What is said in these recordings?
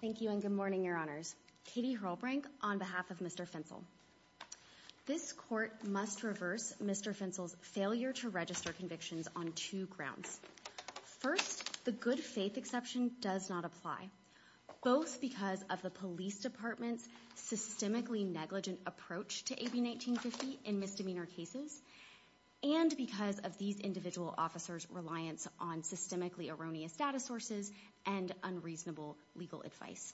Thank you and good morning, your honors. Katie Hrolbrink on behalf of Mr. Fencl. This court must reverse Mr. Fencl's failure to register convictions on two grounds. First, the good faith exception does not apply, both because of the police department's systemically negligent approach to AB 1950 in misdemeanor cases, and because of these individual officers' reliance on systemically erroneous data sources and unreasonable legal advice.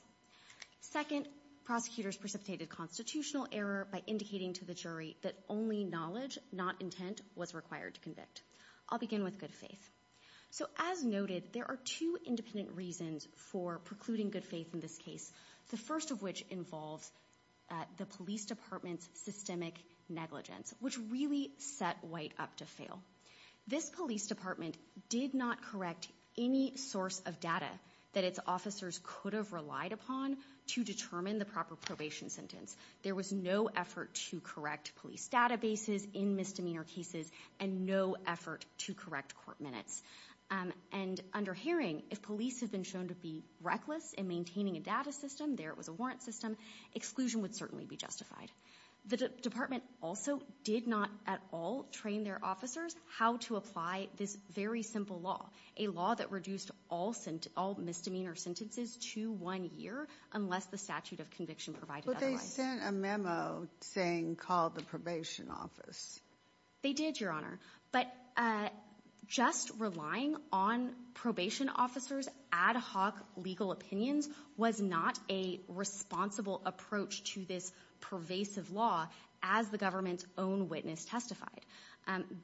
Second, prosecutors precipitated constitutional error by indicating to the jury that only knowledge, not intent, was required to convict. I'll begin with good faith. So as noted, there are two independent reasons for precluding good faith in this case, the first of which involves the police department's systemic negligence, which really set White up to fail. This police department did not correct any source of data that its officers could have relied upon to determine the proper probation sentence. There was no effort to correct police databases in misdemeanor cases and no effort to correct court minutes. And under Haring, if police had been shown to be reckless in maintaining a data system, there it was a warrant system, exclusion would certainly be justified. The department also did not at all train their officers how to apply this very simple law, a law that reduced all misdemeanor sentences to one year unless the statute of conviction provided otherwise. But they sent a memo saying call the probation office. They did, Your Honor. But just relying on probation officers' ad hoc legal opinions was not a responsible approach to this pervasive law as the government's own witness testified.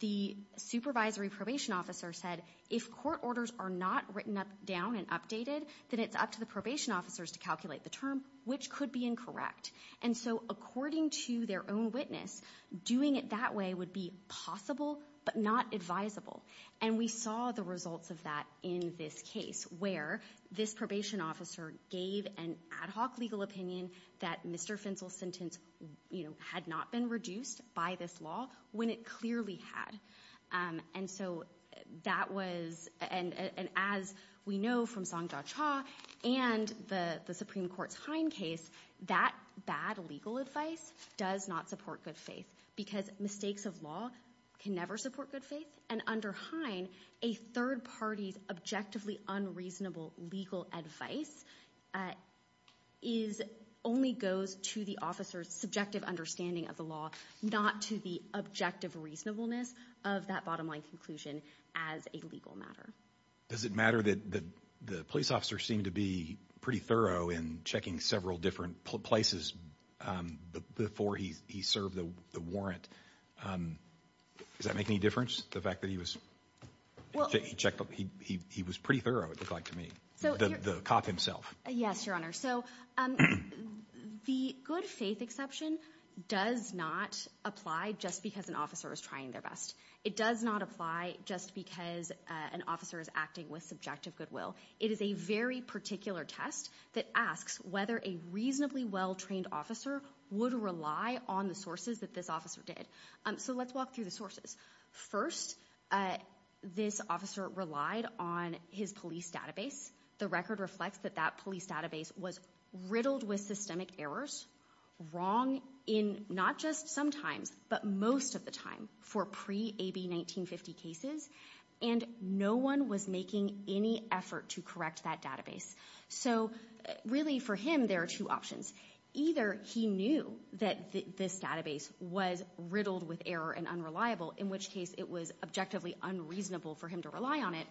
The supervisory probation officer said if court orders are not written down and updated, then it's up to the probation officers to calculate the term, which could be incorrect. And so according to their own witness, doing it that way would be possible but not advisable. And we saw the results of that in this case where this probation officer gave an ad hoc legal opinion that Mr. Fentzel's sentence, you know, had not been reduced by this law when it clearly had. And so that was, and as we know from Song case, that bad legal advice does not support good faith because mistakes of law can never support good faith. And under Hine, a third party's objectively unreasonable legal advice only goes to the officer's subjective understanding of the law, not to the objective reasonableness of that bottom line conclusion as a legal matter. Does it matter that the police officers seemed to be pretty thorough in checking several different places before he served the warrant? Does that make any difference? The fact that he was, he checked, he was pretty thorough it looked like to me. The cop himself. Yes, your honor. So the good faith exception does not apply just because an officer is trying their best. It does not apply just because an officer is acting with subjective goodwill. It is a very particular test that asks whether a reasonably well-trained officer would rely on the sources that this officer did. So let's walk through the sources. First, this officer relied on his police database. The record reflects that that police database was riddled with systemic errors, wrong in not just sometimes, but most of the time for pre-AB1950 cases. And no one was making any effort to correct that database. So really for him, there are two options. Either he knew that this database was riddled with error and unreliable, in which case it was objectively unreasonable for him to rely on it,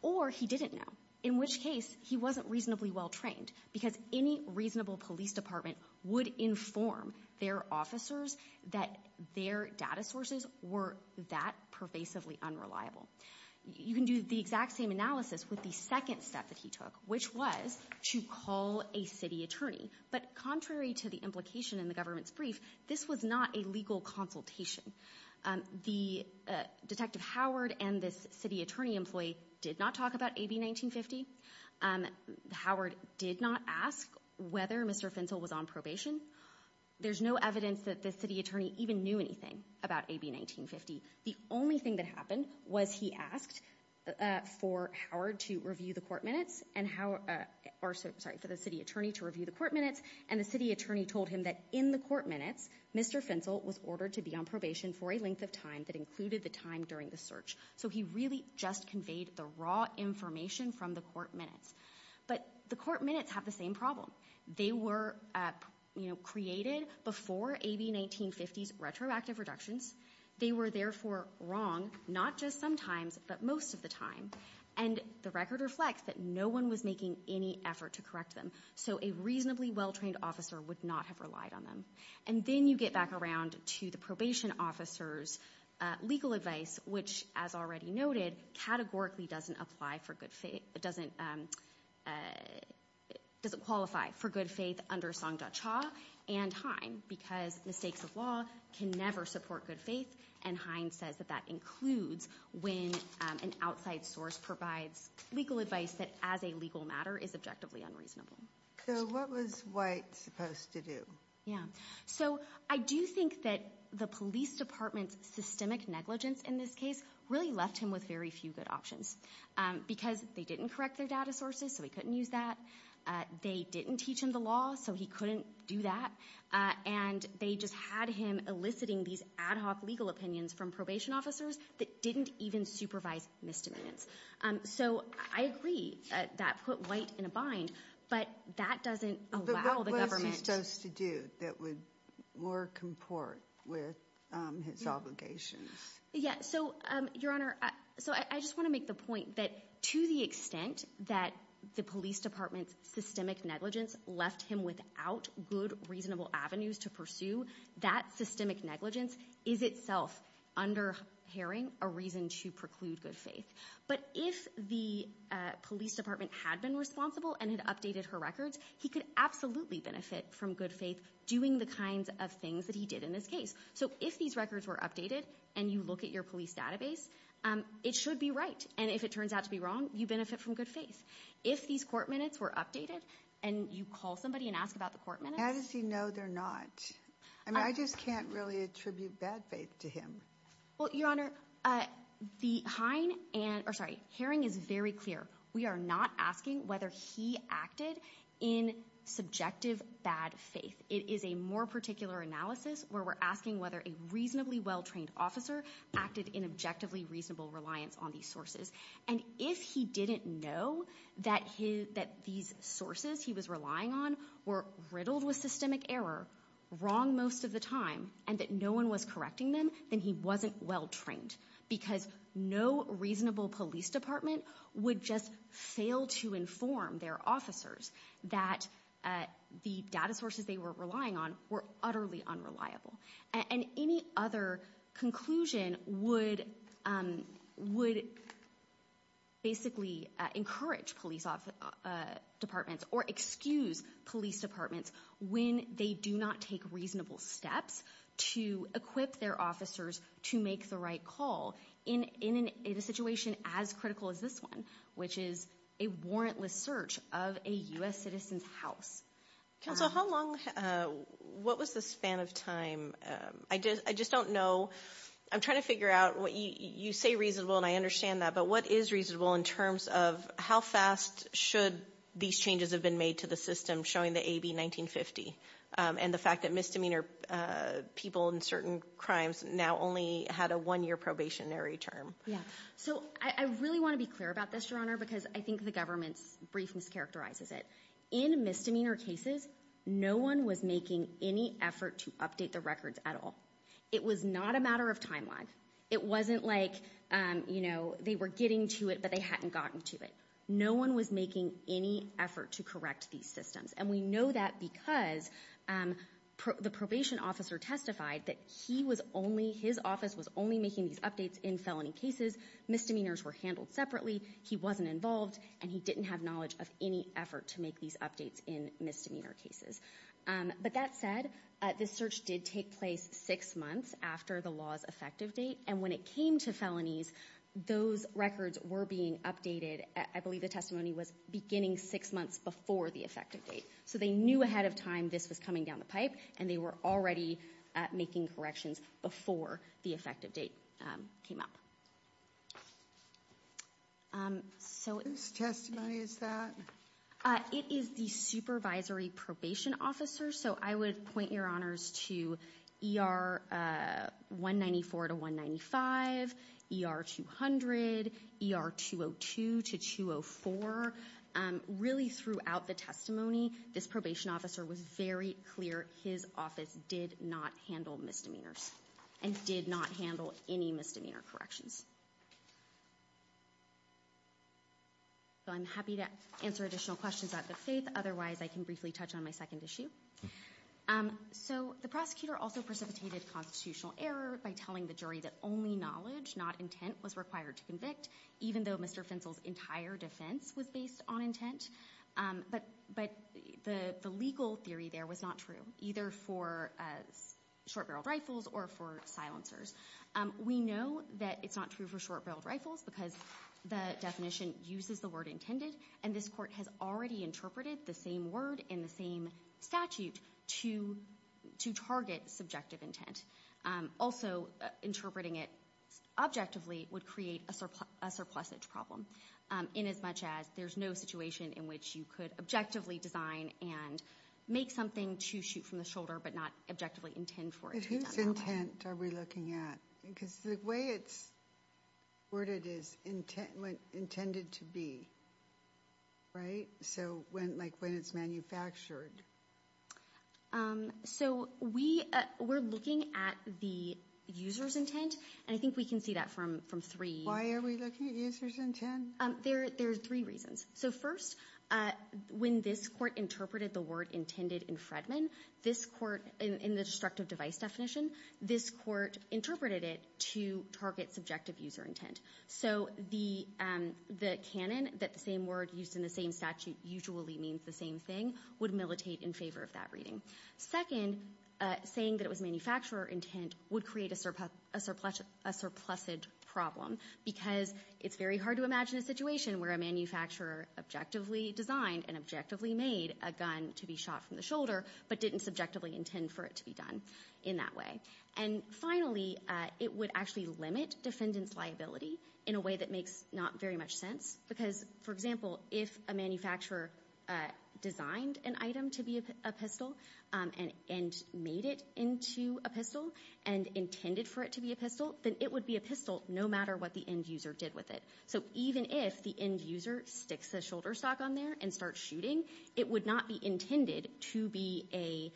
or he didn't know, in which case he wasn't reasonably well-trained. Because any reasonable police department would inform their officers that their data sources were that pervasively unreliable. You can do the exact same analysis with the second step that he took, which was to call a city attorney. But contrary to the implication in the government's brief, this was not a legal consultation. The Detective Howard and this city attorney employee did not talk about AB1950. Howard did not ask whether Mr. Finsel was on probation. There's no evidence that the city attorney even knew anything about AB1950. The only thing that happened was he asked for Howard to review the court minutes and Howard, or sorry, for the city attorney to review the court minutes, and the city attorney told him that in the court minutes, Mr. Finsel was ordered to be on probation for a length of time that included the time during the search. So he really just conveyed the raw information from the court minutes. But the court minutes have the same problem. They were, you know, created before AB1950's retroactive reductions. They were therefore wrong not just sometimes, but most of the time. And the record reflects that no one was making any effort to correct them. So a reasonably well-trained officer would not have relied on them. And then you get back around to the probation officer's legal advice, which as already noted, categorically doesn't apply for good faith, doesn't qualify for good faith under Songda Cha and Hine, because the stakes of law can never support good faith, and Hine says that that includes when an outside source provides legal advice that as a legal So I do think that the police department's systemic negligence in this case really left him with very few good options, because they didn't correct their data sources, so he couldn't use that. They didn't teach him the law, so he couldn't do that. And they just had him eliciting these ad hoc legal opinions from probation officers that didn't even supervise misdemeanors. So I agree that put White in a bind, but that doesn't allow the government what he chose to do that would more comport with his obligations. Yeah, so Your Honor, so I just want to make the point that to the extent that the police department's systemic negligence left him without good, reasonable avenues to pursue, that systemic negligence is itself under Haring a reason to preclude good faith. But if the police department had been responsible and had updated her records, he could absolutely benefit from good faith doing the kinds of things that he did in this case. So if these records were updated and you look at your police database, it should be right. And if it turns out to be wrong, you benefit from good faith. If these court minutes were updated and you call somebody and ask about the court minutes... How does he know they're not? I mean, I just can't really attribute bad faith to him. Well, Your Honor, Haring is very clear. We are not asking whether he acted in subjective bad faith. It is a more particular analysis where we're asking whether a reasonably well-trained officer acted in objectively reasonable reliance on these sources. And if he didn't know that these sources he was relying on were riddled with systemic error, wrong most of the time, and that no one was correcting them, then he wasn't well-trained. Because no reasonable police department would just fail to inform their officers that the data sources they were relying on were utterly unreliable. And any other conclusion would basically encourage police departments or excuse police departments when they do not take reasonable steps to equip their officers to make the right call in a situation as critical as this one, which is a warrantless search of a U.S. citizen's house. Counsel, how long... What was the span of time? I just don't know. I'm trying to figure out... You say reasonable, and I understand that, but what is reasonable in terms of how fast should these changes have been made to the system showing the AB 1950 and the fact that misdemeanor people in certain crimes now only had a one-year probationary term? Yeah. So I really want to be clear about this, Your Honor, because I think the government's brief mischaracterizes it. In misdemeanor cases, no one was making any effort to update the records at all. It was not a matter of time lag. It wasn't like they were getting to it, but they hadn't gotten to it. No one was making any effort to correct these systems. And we know that because the probation officer testified that he was only... His office was only making these updates in felony cases. Misdemeanors were handled separately. He wasn't involved, and he didn't have knowledge of any effort to make these updates in misdemeanor cases. But that said, this search did take place six months after the law's effective date, and when it came to felonies, those records were being updated... I believe the testimony was beginning six months before the effective date. So they knew ahead of time this was coming down the pipe, and they were already making corrections before the effective date came up. Whose testimony is that? It is the supervisory probation officer. So I would point, Your Honors, to ER 194 to 195, ER 200, ER 202 to 204. Really throughout the testimony, this probation officer was very clear his office did not handle misdemeanors and did not handle any misdemeanor corrections. So I'm happy to answer additional questions out of good faith. Otherwise, I can briefly touch on my second issue. So the prosecutor also precipitated constitutional error by telling the jury that only knowledge, not intent, was required to convict, even though Mr. Finsel's entire defense was based on intent. But the legal theory there was not true, either for short-barreled rifles or for silencers. We know that it's not true for short-barreled rifles because the definition uses the word intended, and this Court has already interpreted the same statute to target subjective intent. Also, interpreting it objectively would create a surplusage problem inasmuch as there's no situation in which you could objectively design and make something to shoot from the shoulder but not objectively intend for it to be done. Whose intent are we looking at? Because the way it's worded is intended to be, right? So, like, when it's manufactured. So we're looking at the user's intent, and I think we can see that from three... Why are we looking at user's intent? There are three reasons. So first, when this Court interpreted the word intended in Fredman, this Court, in the destructive device definition, this Court interpreted it to target subjective user intent. So the canon, that the same word used in the same statute usually means the same thing, would militate in favor of that reading. Second, saying that it was manufacturer intent would create a surplusage problem because it's very hard to imagine a situation where a manufacturer objectively designed and objectively made a gun to be shot from the shoulder but didn't subjectively intend for it to be done in that way. And finally, it would actually limit defendant's liability in a way that makes not very much sense because, for example, if a manufacturer designed an item to be a pistol and made it into a pistol and intended for it to be a pistol, then it would be a pistol no matter what the end user did with it. So even if the end user sticks a shoulder stock on there and starts shooting, it would not be intended to be a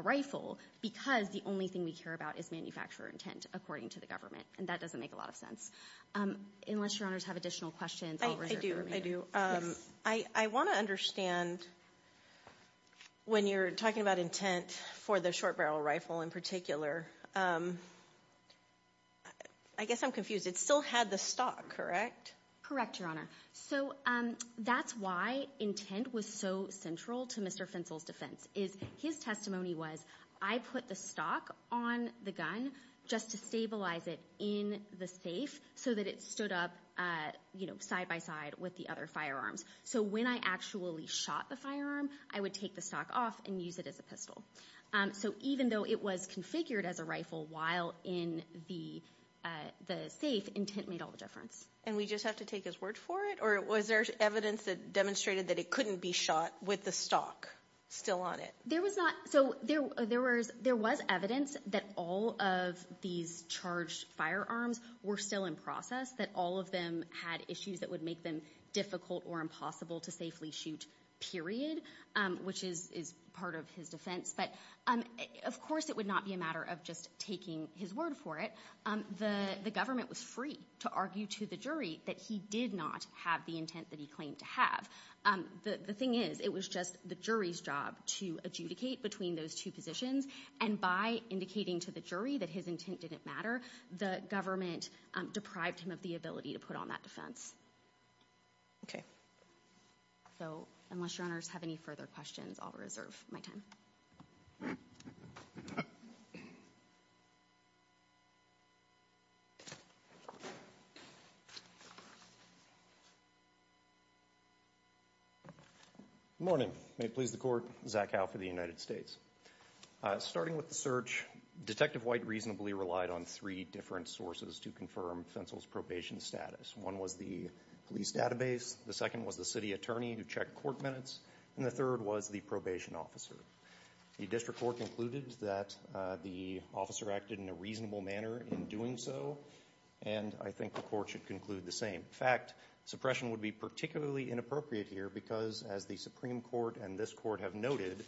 rifle because the only thing we care about is manufacturer intent, according to the government. And that doesn't make a lot of sense. Unless Your Honors have additional questions, I'll reserve the remainder. I do. I do. I want to understand, when you're talking about intent for the short barrel rifle in particular, I guess I'm confused. It still had the stock, correct? Correct, Your Honor. So that's why intent was so central to Mr. Finsel's defense. His testimony was, I put the stock on the gun just to stabilize it in the safe so that it stood up side by side with the other firearms. So when I actually shot the firearm, I would take the stock off and use it as a pistol. So even though it was configured as a rifle while in the safe, intent made all the difference. And we just have to take his word for it? Or was there evidence that demonstrated that it couldn't be shot with the stock still on it? There was evidence that all of these charged firearms were still in process, that all of them had issues that would make them difficult or impossible to safely shoot, period, which is part of his defense. But of course it would not be a matter of just taking his word for it. The government was free to argue to the jury that he did not have the intent that he claimed to have. The thing is, it was just the jury's job to adjudicate between those two positions. And by indicating to the jury that his intent didn't matter, the government deprived him of the ability to put on that defense. Okay. So unless your honors have any further questions, I'll reserve my time. Good morning. May it please the court, Zach Howe for the United States. Starting with the search, Detective White reasonably relied on three different sources to confirm Fentzel's probation status. One was the police database, the second was the city attorney who checked court minutes, and the third was the probation officer. The district court concluded that the officer acted in a reasonable manner in doing so, and I think the court should conclude the same. In fact, suppression would be particularly inappropriate here because, as the Supreme Court and this Court have noted,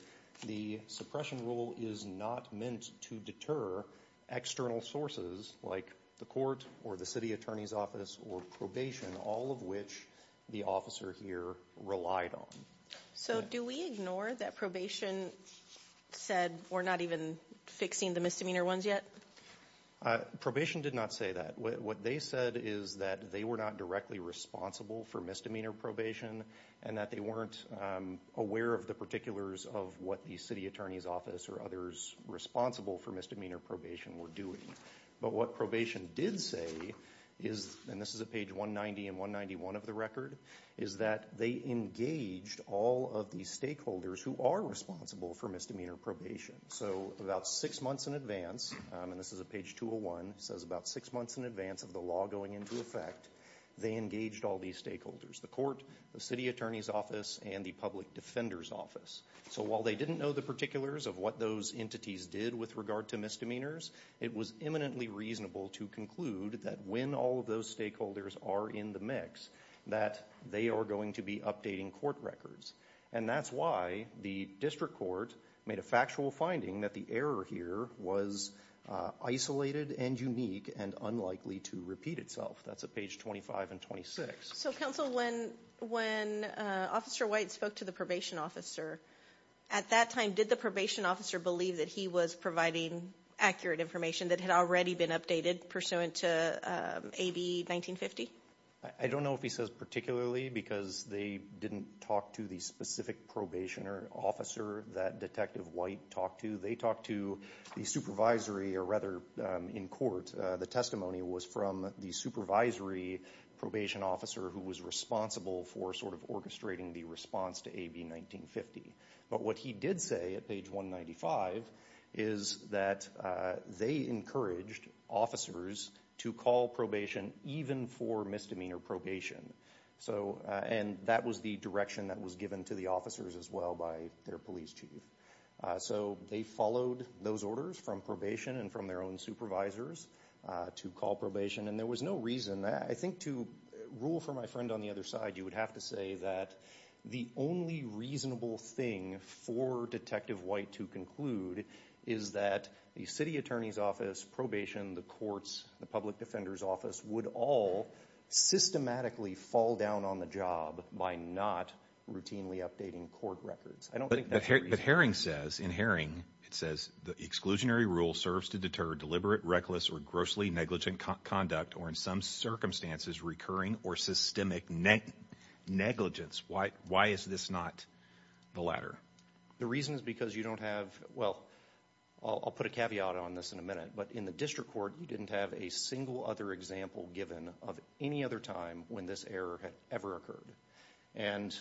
the suppression rule is not meant to deter external sources like the court or the city attorney's office or probation, all of which the officer here relied on. So do we ignore that probation said we're not even fixing the misdemeanor ones yet? Probation did not say that. What they said is that they were not directly responsible for misdemeanor probation and that they weren't aware of the particulars of what the city attorney's office or others responsible for misdemeanor probation were doing. But what probation did say is, and this is at page 190 and 191 of the record, is that they engaged all of the stakeholders who are responsible for misdemeanor probation. So about six months in advance, and this is at page 201, it says about six months in advance of the law going into effect, they engaged all these stakeholders. The court, the city attorney's office, and the public defender's office. So while they didn't know the particulars of what those entities did with regard to misdemeanors, it was eminently reasonable to conclude that when all of those stakeholders are in the mix, that they are going to be updating court records. And that's why the district court made a factual finding that the error here was isolated and unique and unlikely to repeat itself. That's at page 25 and 26. So, counsel, when Officer White spoke to the probation officer, at that time, did the probation officer believe that he was providing accurate information that had already been updated pursuant to AB 1950? I don't know if he says particularly because they didn't talk to the specific probation officer that Detective White talked to. They talked to the supervisory, or rather in court, the testimony was from the supervisory probation officer who was responsible for sort of orchestrating the response to AB 1950. But what he did say at page 195 is that they encouraged officers to call probation even for misdemeanor probation. And that was the direction that was given to the officers as well by their police chief. So they followed those orders from probation and from their own supervisors to call probation. And there was no reason, I think, to rule for my friend on the other side, you would have to say that the only reasonable thing for Detective White to conclude is that the city attorney's office, probation, the courts, the public defender's office would all systematically fall down on the job by not routinely updating court records. But Herring says, in Herring, it says, the exclusionary rule serves to deter deliberate, reckless, or grossly negligent conduct, or in some circumstances, recurring or systemic negligence. Why is this not the latter? The reason is because you don't have, well, I'll put a caveat on this in a minute, but in the district court, you didn't have a single other example given of any other time when this error had ever occurred. And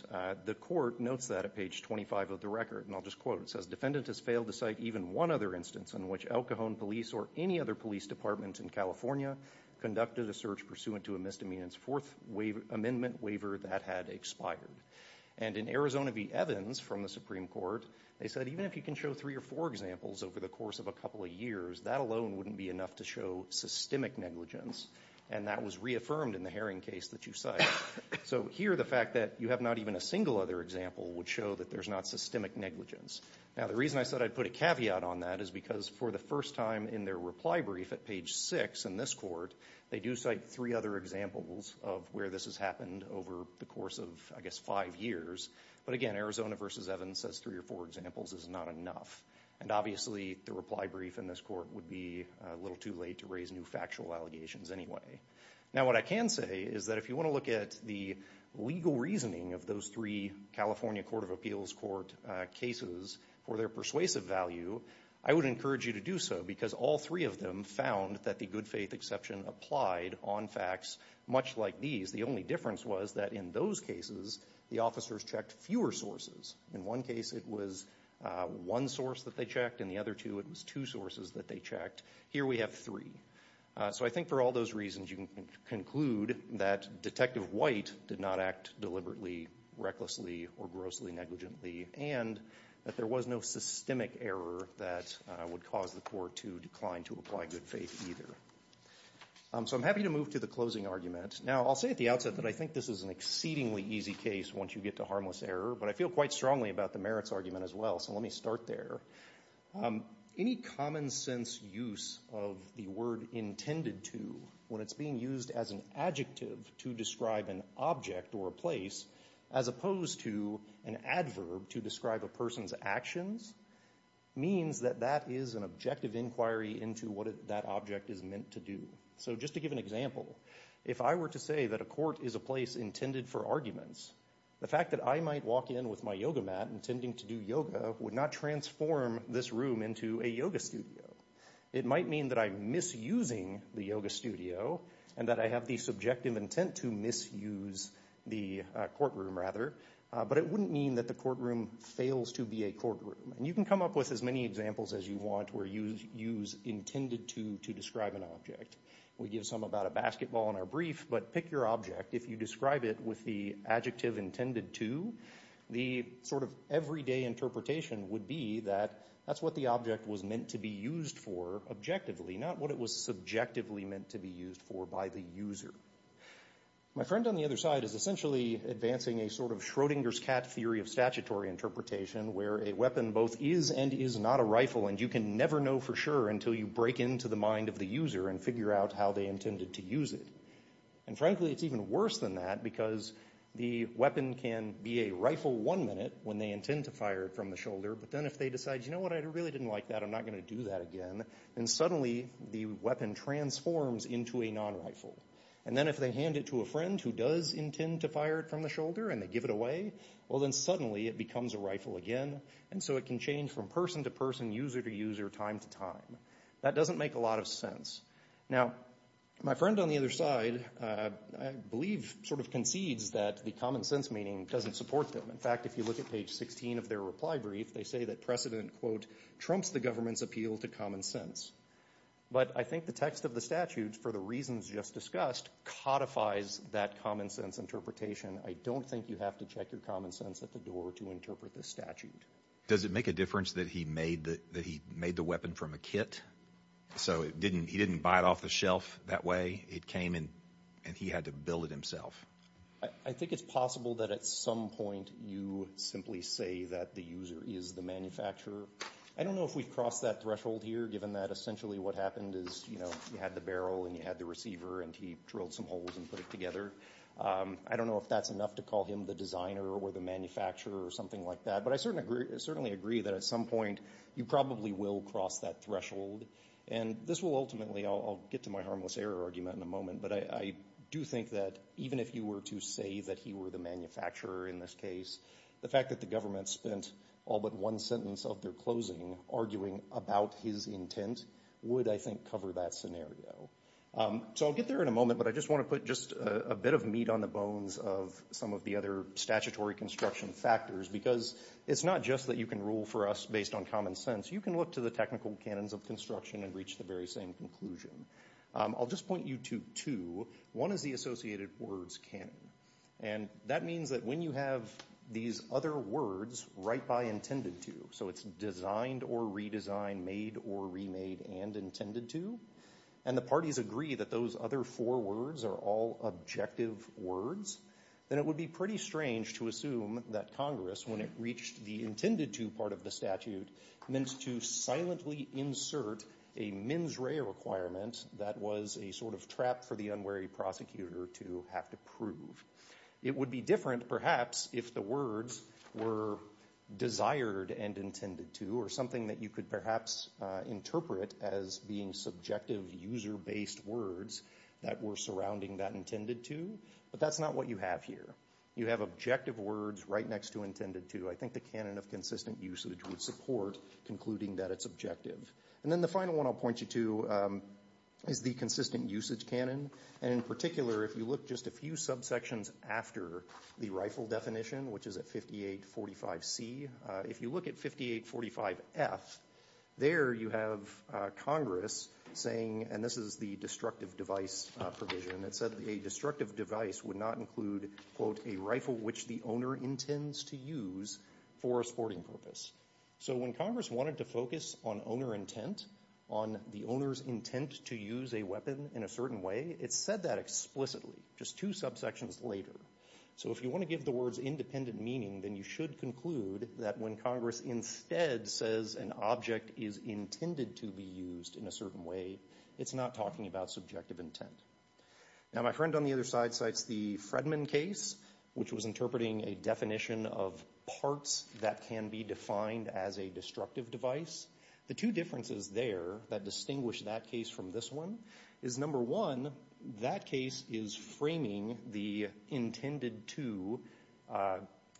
the court notes that at page 25 of the record, and I'll just quote it. It says, defendant has failed to cite even one other instance in which El Cajon police or any other police department in California conducted a search pursuant to a misdemeanor's fourth amendment waiver that had expired. And in Arizona v. Evans from the Supreme Court, they said even if you can show three or four examples over the course of a couple of years, that alone wouldn't be enough to show systemic negligence. And that was reaffirmed in the Herring case that you cite. So here, the fact that you have not even a single other example would show that there's not systemic negligence. Now, the reason I said I'd put a caveat on that is because for the first time in their reply brief at page six in this court, they do cite three other examples of where this has happened over the course of, I guess, five years. But again, Arizona v. Evans says three or four examples is not enough. And obviously, the reply brief in this court would be a little too late to raise new factual allegations anyway. Now, what I can say is that if you want to look at the legal reasoning of those three California Court of Appeals court cases for their persuasive value, I would encourage you to do so because all three of them found that the good faith exception applied on facts much like these. The only difference was that in those cases, the officers checked fewer sources. In one case, it was one source that they checked. In the other two, it was two sources that they checked. Here, we have three. So I think for all those reasons, you can conclude that Detective White did not act deliberately, recklessly, or grossly negligently, and that there was no systemic error that would cause the court to decline to apply good faith either. So I'm happy to move to the closing argument. Now, I'll say at the outset that I think this is an exceedingly easy case once you get to harmless error, but I feel quite strongly about the merits argument as well. So let me say that the common sense use of the word intended to, when it's being used as an adjective to describe an object or a place, as opposed to an adverb to describe a person's actions, means that that is an objective inquiry into what that object is meant to do. So just to give an example, if I were to say that a court is a place intended for arguments, the fact that I might walk in with my yoga mat intending to do yoga in a yoga studio, it might mean that I'm misusing the yoga studio and that I have the subjective intent to misuse the courtroom, rather. But it wouldn't mean that the courtroom fails to be a courtroom. And you can come up with as many examples as you want where you use intended to to describe an object. We give some about a basketball in our brief, but pick your object. If you describe it with the adjective intended to, the sort of everyday interpretation would be that that's what the object was meant to be used for objectively, not what it was subjectively meant to be used for by the user. My friend on the other side is essentially advancing a sort of Schrodinger's cat theory of statutory interpretation where a weapon both is and is not a rifle and you can never know for sure until you break into the mind of the user and figure out how they intended to use it. And frankly, it's even worse than that because the weapon can be a rifle one minute when they intend to fire it from the shoulder, but then if they decide, you know what, I really didn't like that, I'm not going to do that again, then suddenly the weapon transforms into a non-rifle. And then if they hand it to a friend who does intend to fire it from the shoulder and they give it away, well, then suddenly it becomes a rifle again, and so it can change from person to person, user to user, time to time. That doesn't make a lot of sense. Now, my friend on the other side, I believe, sort of concedes that the common sense meaning doesn't support them. In fact, if you look at the beginning of their reply brief, they say that precedent, quote, trumps the government's appeal to common sense. But I think the text of the statute, for the reasons just discussed, codifies that common sense interpretation. I don't think you have to check your common sense at the door to interpret this statute. Does it make a difference that he made the weapon from a kit? So he didn't buy it off the shelf that way. It came and he had to build it himself. I think it's possible that at some point you simply say that the user is the manufacturer. I don't know if we've crossed that threshold here, given that essentially what happened is you had the barrel and you had the receiver and he drilled some holes and put it together. I don't know if that's enough to call him the designer or the manufacturer or something like that, but I certainly agree that at some point you probably will cross that threshold. And this will ultimately, I'll get to my harmless error argument in a moment, but I do think that even if you were to say that he were the manufacturer in this case, the fact that the government spent all but one sentence of their closing arguing about his intent would, I think, cover that scenario. So I'll get there in a moment, but I just want to put just a bit of meat on the bones of some of the other statutory construction factors, because it's not just that you can rule for us based on common sense. You can look to the technical canons of construction and reach the very same conclusion. I'll just point you to two. One is the associated words canon. And that means that when you have these other words right by intended to, so it's designed or redesigned, made or remade, and intended to, and the parties agree that those other four words are all objective words, then it would be pretty strange to assume that Congress, when it reached the intended to part of the statute, meant to silently insert a mens rea requirement that was a sort of trap for the unwary prosecutor to have to prove. It would be different, perhaps, if the words were desired and intended to or something that you could perhaps interpret as being subjective user-based words that were surrounding that intended to, but that's not what you have here. You have objective words right next to intended to. I think the canon of consistent usage would support concluding that it's objective. And then the final one I'll point you to is the consistent usage canon. And in particular, if you look just a few subsections after the rifle definition, which is at 5845C, if you look at 5845F, there you have Congress saying, and this is the destructive device provision, it said a destructive device would not include, quote, a rifle which the owner intends to use for a sporting purpose. So when Congress wanted to focus on owner intent, on the owner's intent to use a weapon in a certain way, it said that explicitly, just two subsections later. So if you want to give the words independent meaning, then you should conclude that when Congress instead says an object is intended to be used in a certain way, it's not talking about subjective intent. Now my friend on the other side cites the Fredman case, which was interpreting a definition of parts that can be defined as a destructive device. The two differences there that distinguish that case from this one is, number one, that case is framing the intended to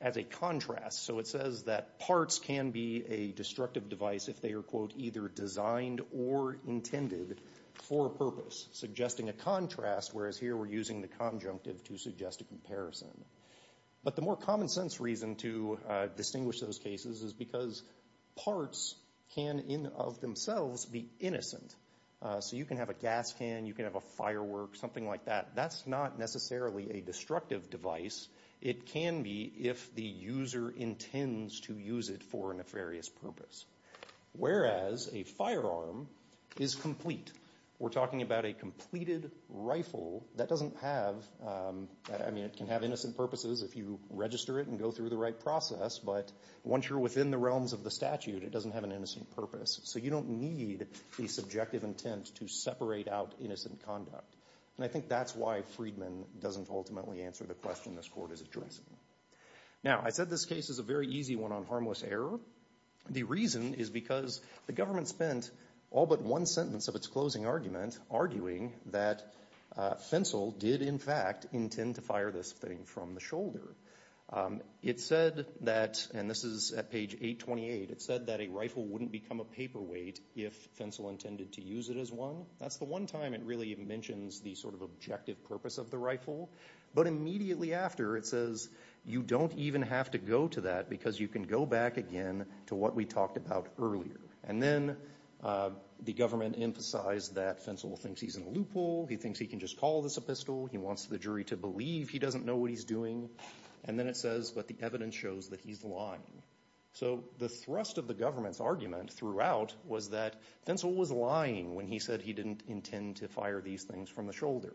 as a contrast. So it says that parts can be a destructive device if they are, quote, designed or intended for a purpose, suggesting a contrast, whereas here we're using the conjunctive to suggest a comparison. But the more common sense reason to distinguish those cases is because parts can in of themselves be innocent. So you can have a gas can, you can have a firework, something like that. That's not necessarily a destructive device. It can be if the user intends to use it for a nefarious purpose. Whereas a firearm is complete. We're talking about a completed rifle that doesn't have, I mean, it can have innocent purposes if you register it and go through the right process, but once you're within the realms of the statute, it doesn't have an innocent purpose. So you don't need the subjective intent to separate out innocent conduct. And I think that's why Freedman doesn't ultimately answer the question this Court is addressing. Now, I said this case is a very easy one on harmless error. The reason is because the government spent all but one sentence of its closing argument arguing that Fensel did, in fact, intend to fire this thing from the shoulder. It said that, and this is at page 828, it said that a rifle wouldn't become a paperweight if Fensel intended to use it as one. That's the one time it really mentions the sort of objective purpose of the rifle. But immediately after, it says you don't even have to go to that because you can go back again to what we talked about earlier. And then the government emphasized that Fensel thinks he's in a loophole. He thinks he can just call this a pistol. He wants the jury to believe he doesn't know what he's doing. And then it says, but the evidence shows that he's lying. So the thrust of the government's argument throughout was that Fensel was lying when he said he didn't intend to fire these things from the shoulder.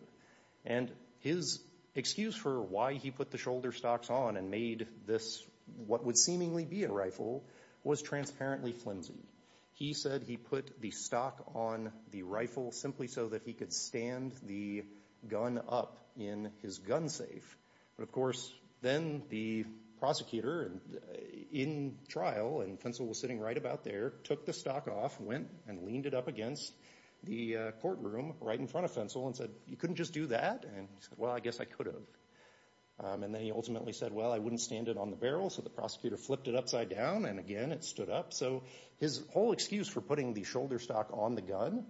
And his excuse for why he put the shoulder stocks on and made this what would seemingly be a rifle was transparently flimsy. He said he put the stock on the rifle simply so that he could stand the gun up in his gun safe. But, of course, then the prosecutor in trial, and Fensel was sitting right about there, took the stock off, went and leaned it up against the courtroom right in front of Fensel and said, you couldn't just do that? And he said, well, I guess I could have. And then he ultimately said, well, I wouldn't stand it on the barrel. So the prosecutor flipped it upside down, and again it stood up. So his whole excuse for putting the shoulder stock on the gun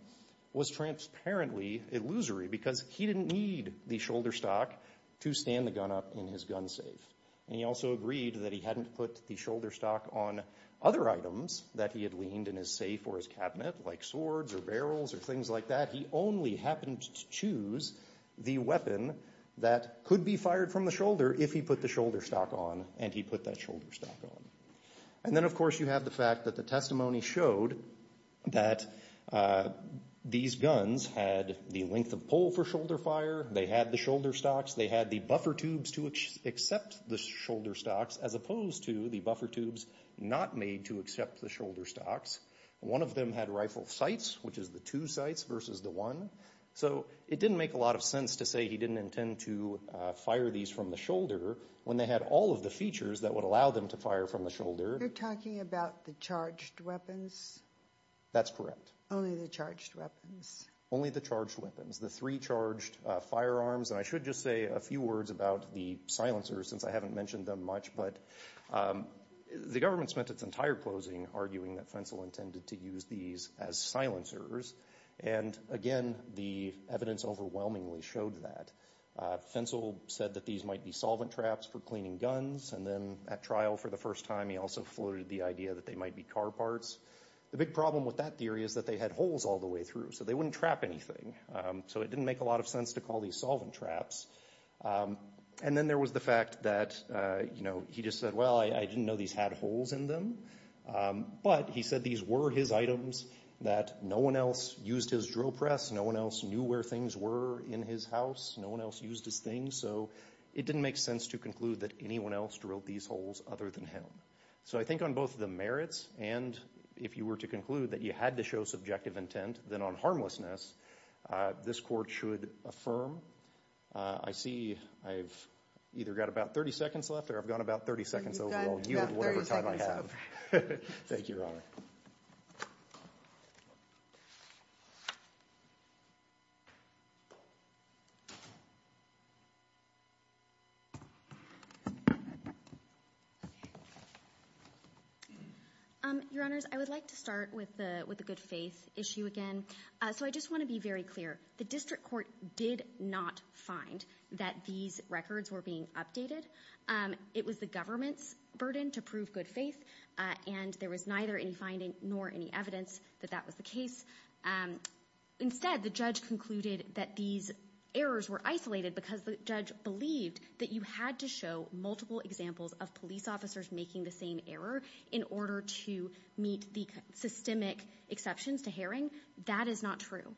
was transparently illusory because he didn't need the shoulder stock to stand the gun up in his gun safe. And he also agreed that he hadn't put the shoulder stock on other items that he had leaned in his safe or his cabinet, like swords or barrels or things like that. He only happened to choose the weapon that could be fired from the shoulder if he put the shoulder stock on, and he put that shoulder stock on. And then, of course, you have the fact that the testimony showed that these guns had the length of pull for shoulder fire. They had the shoulder stocks. They had the buffer tubes to accept the shoulder stocks as opposed to the buffer tubes not made to accept the shoulder stocks. One of them had rifle sights, which is the two sights versus the one. So it didn't make a lot of sense to say he didn't intend to fire these from the shoulder when they had all of the features that would allow them to fire from the shoulder. You're talking about the charged weapons? That's correct. Only the charged weapons? Only the charged weapons, the three charged firearms. And I should just say a few words about the silencers since I haven't mentioned them much. But the government spent its entire closing arguing that Fentzel intended to use these as silencers. And, again, the evidence overwhelmingly showed that. Fentzel said that these might be solvent traps for cleaning guns, and then at trial for the first time he also floated the idea that they might be car parts. The big problem with that theory is that they had holes all the way through, so they wouldn't trap anything. So it didn't make a lot of sense to call these solvent traps. And then there was the fact that he just said, well, I didn't know these had holes in them. But he said these were his items, that no one else used his drill press, no one else knew where things were in his house, no one else used his things. So it didn't make sense to conclude that anyone else drilled these holes other than him. So I think on both the merits and if you were to conclude that you had to show subjective intent, then on harmlessness, this Court should affirm. I see I've either got about 30 seconds left or I've gone about 30 seconds over. You've got 30 seconds left. Thank you, Your Honor. Your Honors, I would like to start with the good faith issue again. So I just want to be very clear. The District Court did not find that these records were being updated. It was the government's burden to prove good faith, and there was neither any finding nor any evidence that that was the case. Instead, the judge concluded that these errors were isolated because the judge believed that you had to show multiple examples of police officers making the same error in order to meet the systemic exceptions to Haring. That is not true.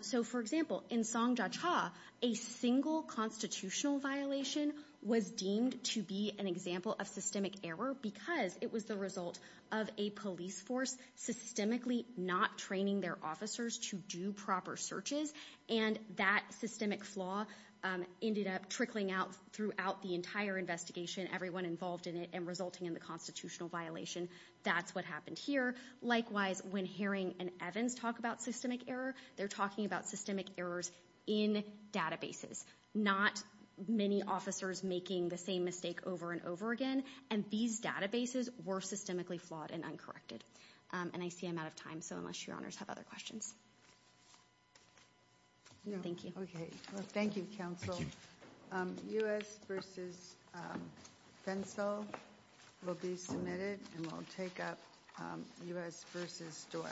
So, for example, in Song Jia Cha, a single constitutional violation was deemed to be an example of systemic error because it was the result of a police force systemically not training their officers to do proper searches, and that systemic flaw ended up trickling out throughout the entire investigation, everyone involved in it, and resulting in the constitutional violation. That's what happened here. Likewise, when Haring and Evans talk about systemic error, they're talking about systemic errors in databases, not many officers making the same mistake over and over again. And these databases were systemically flawed and uncorrected. And I see I'm out of time, so unless your honors have other questions. Thank you. Thank you, counsel. U.S. v. Fensel will be submitted, and we'll take up U.S. v. Doyle.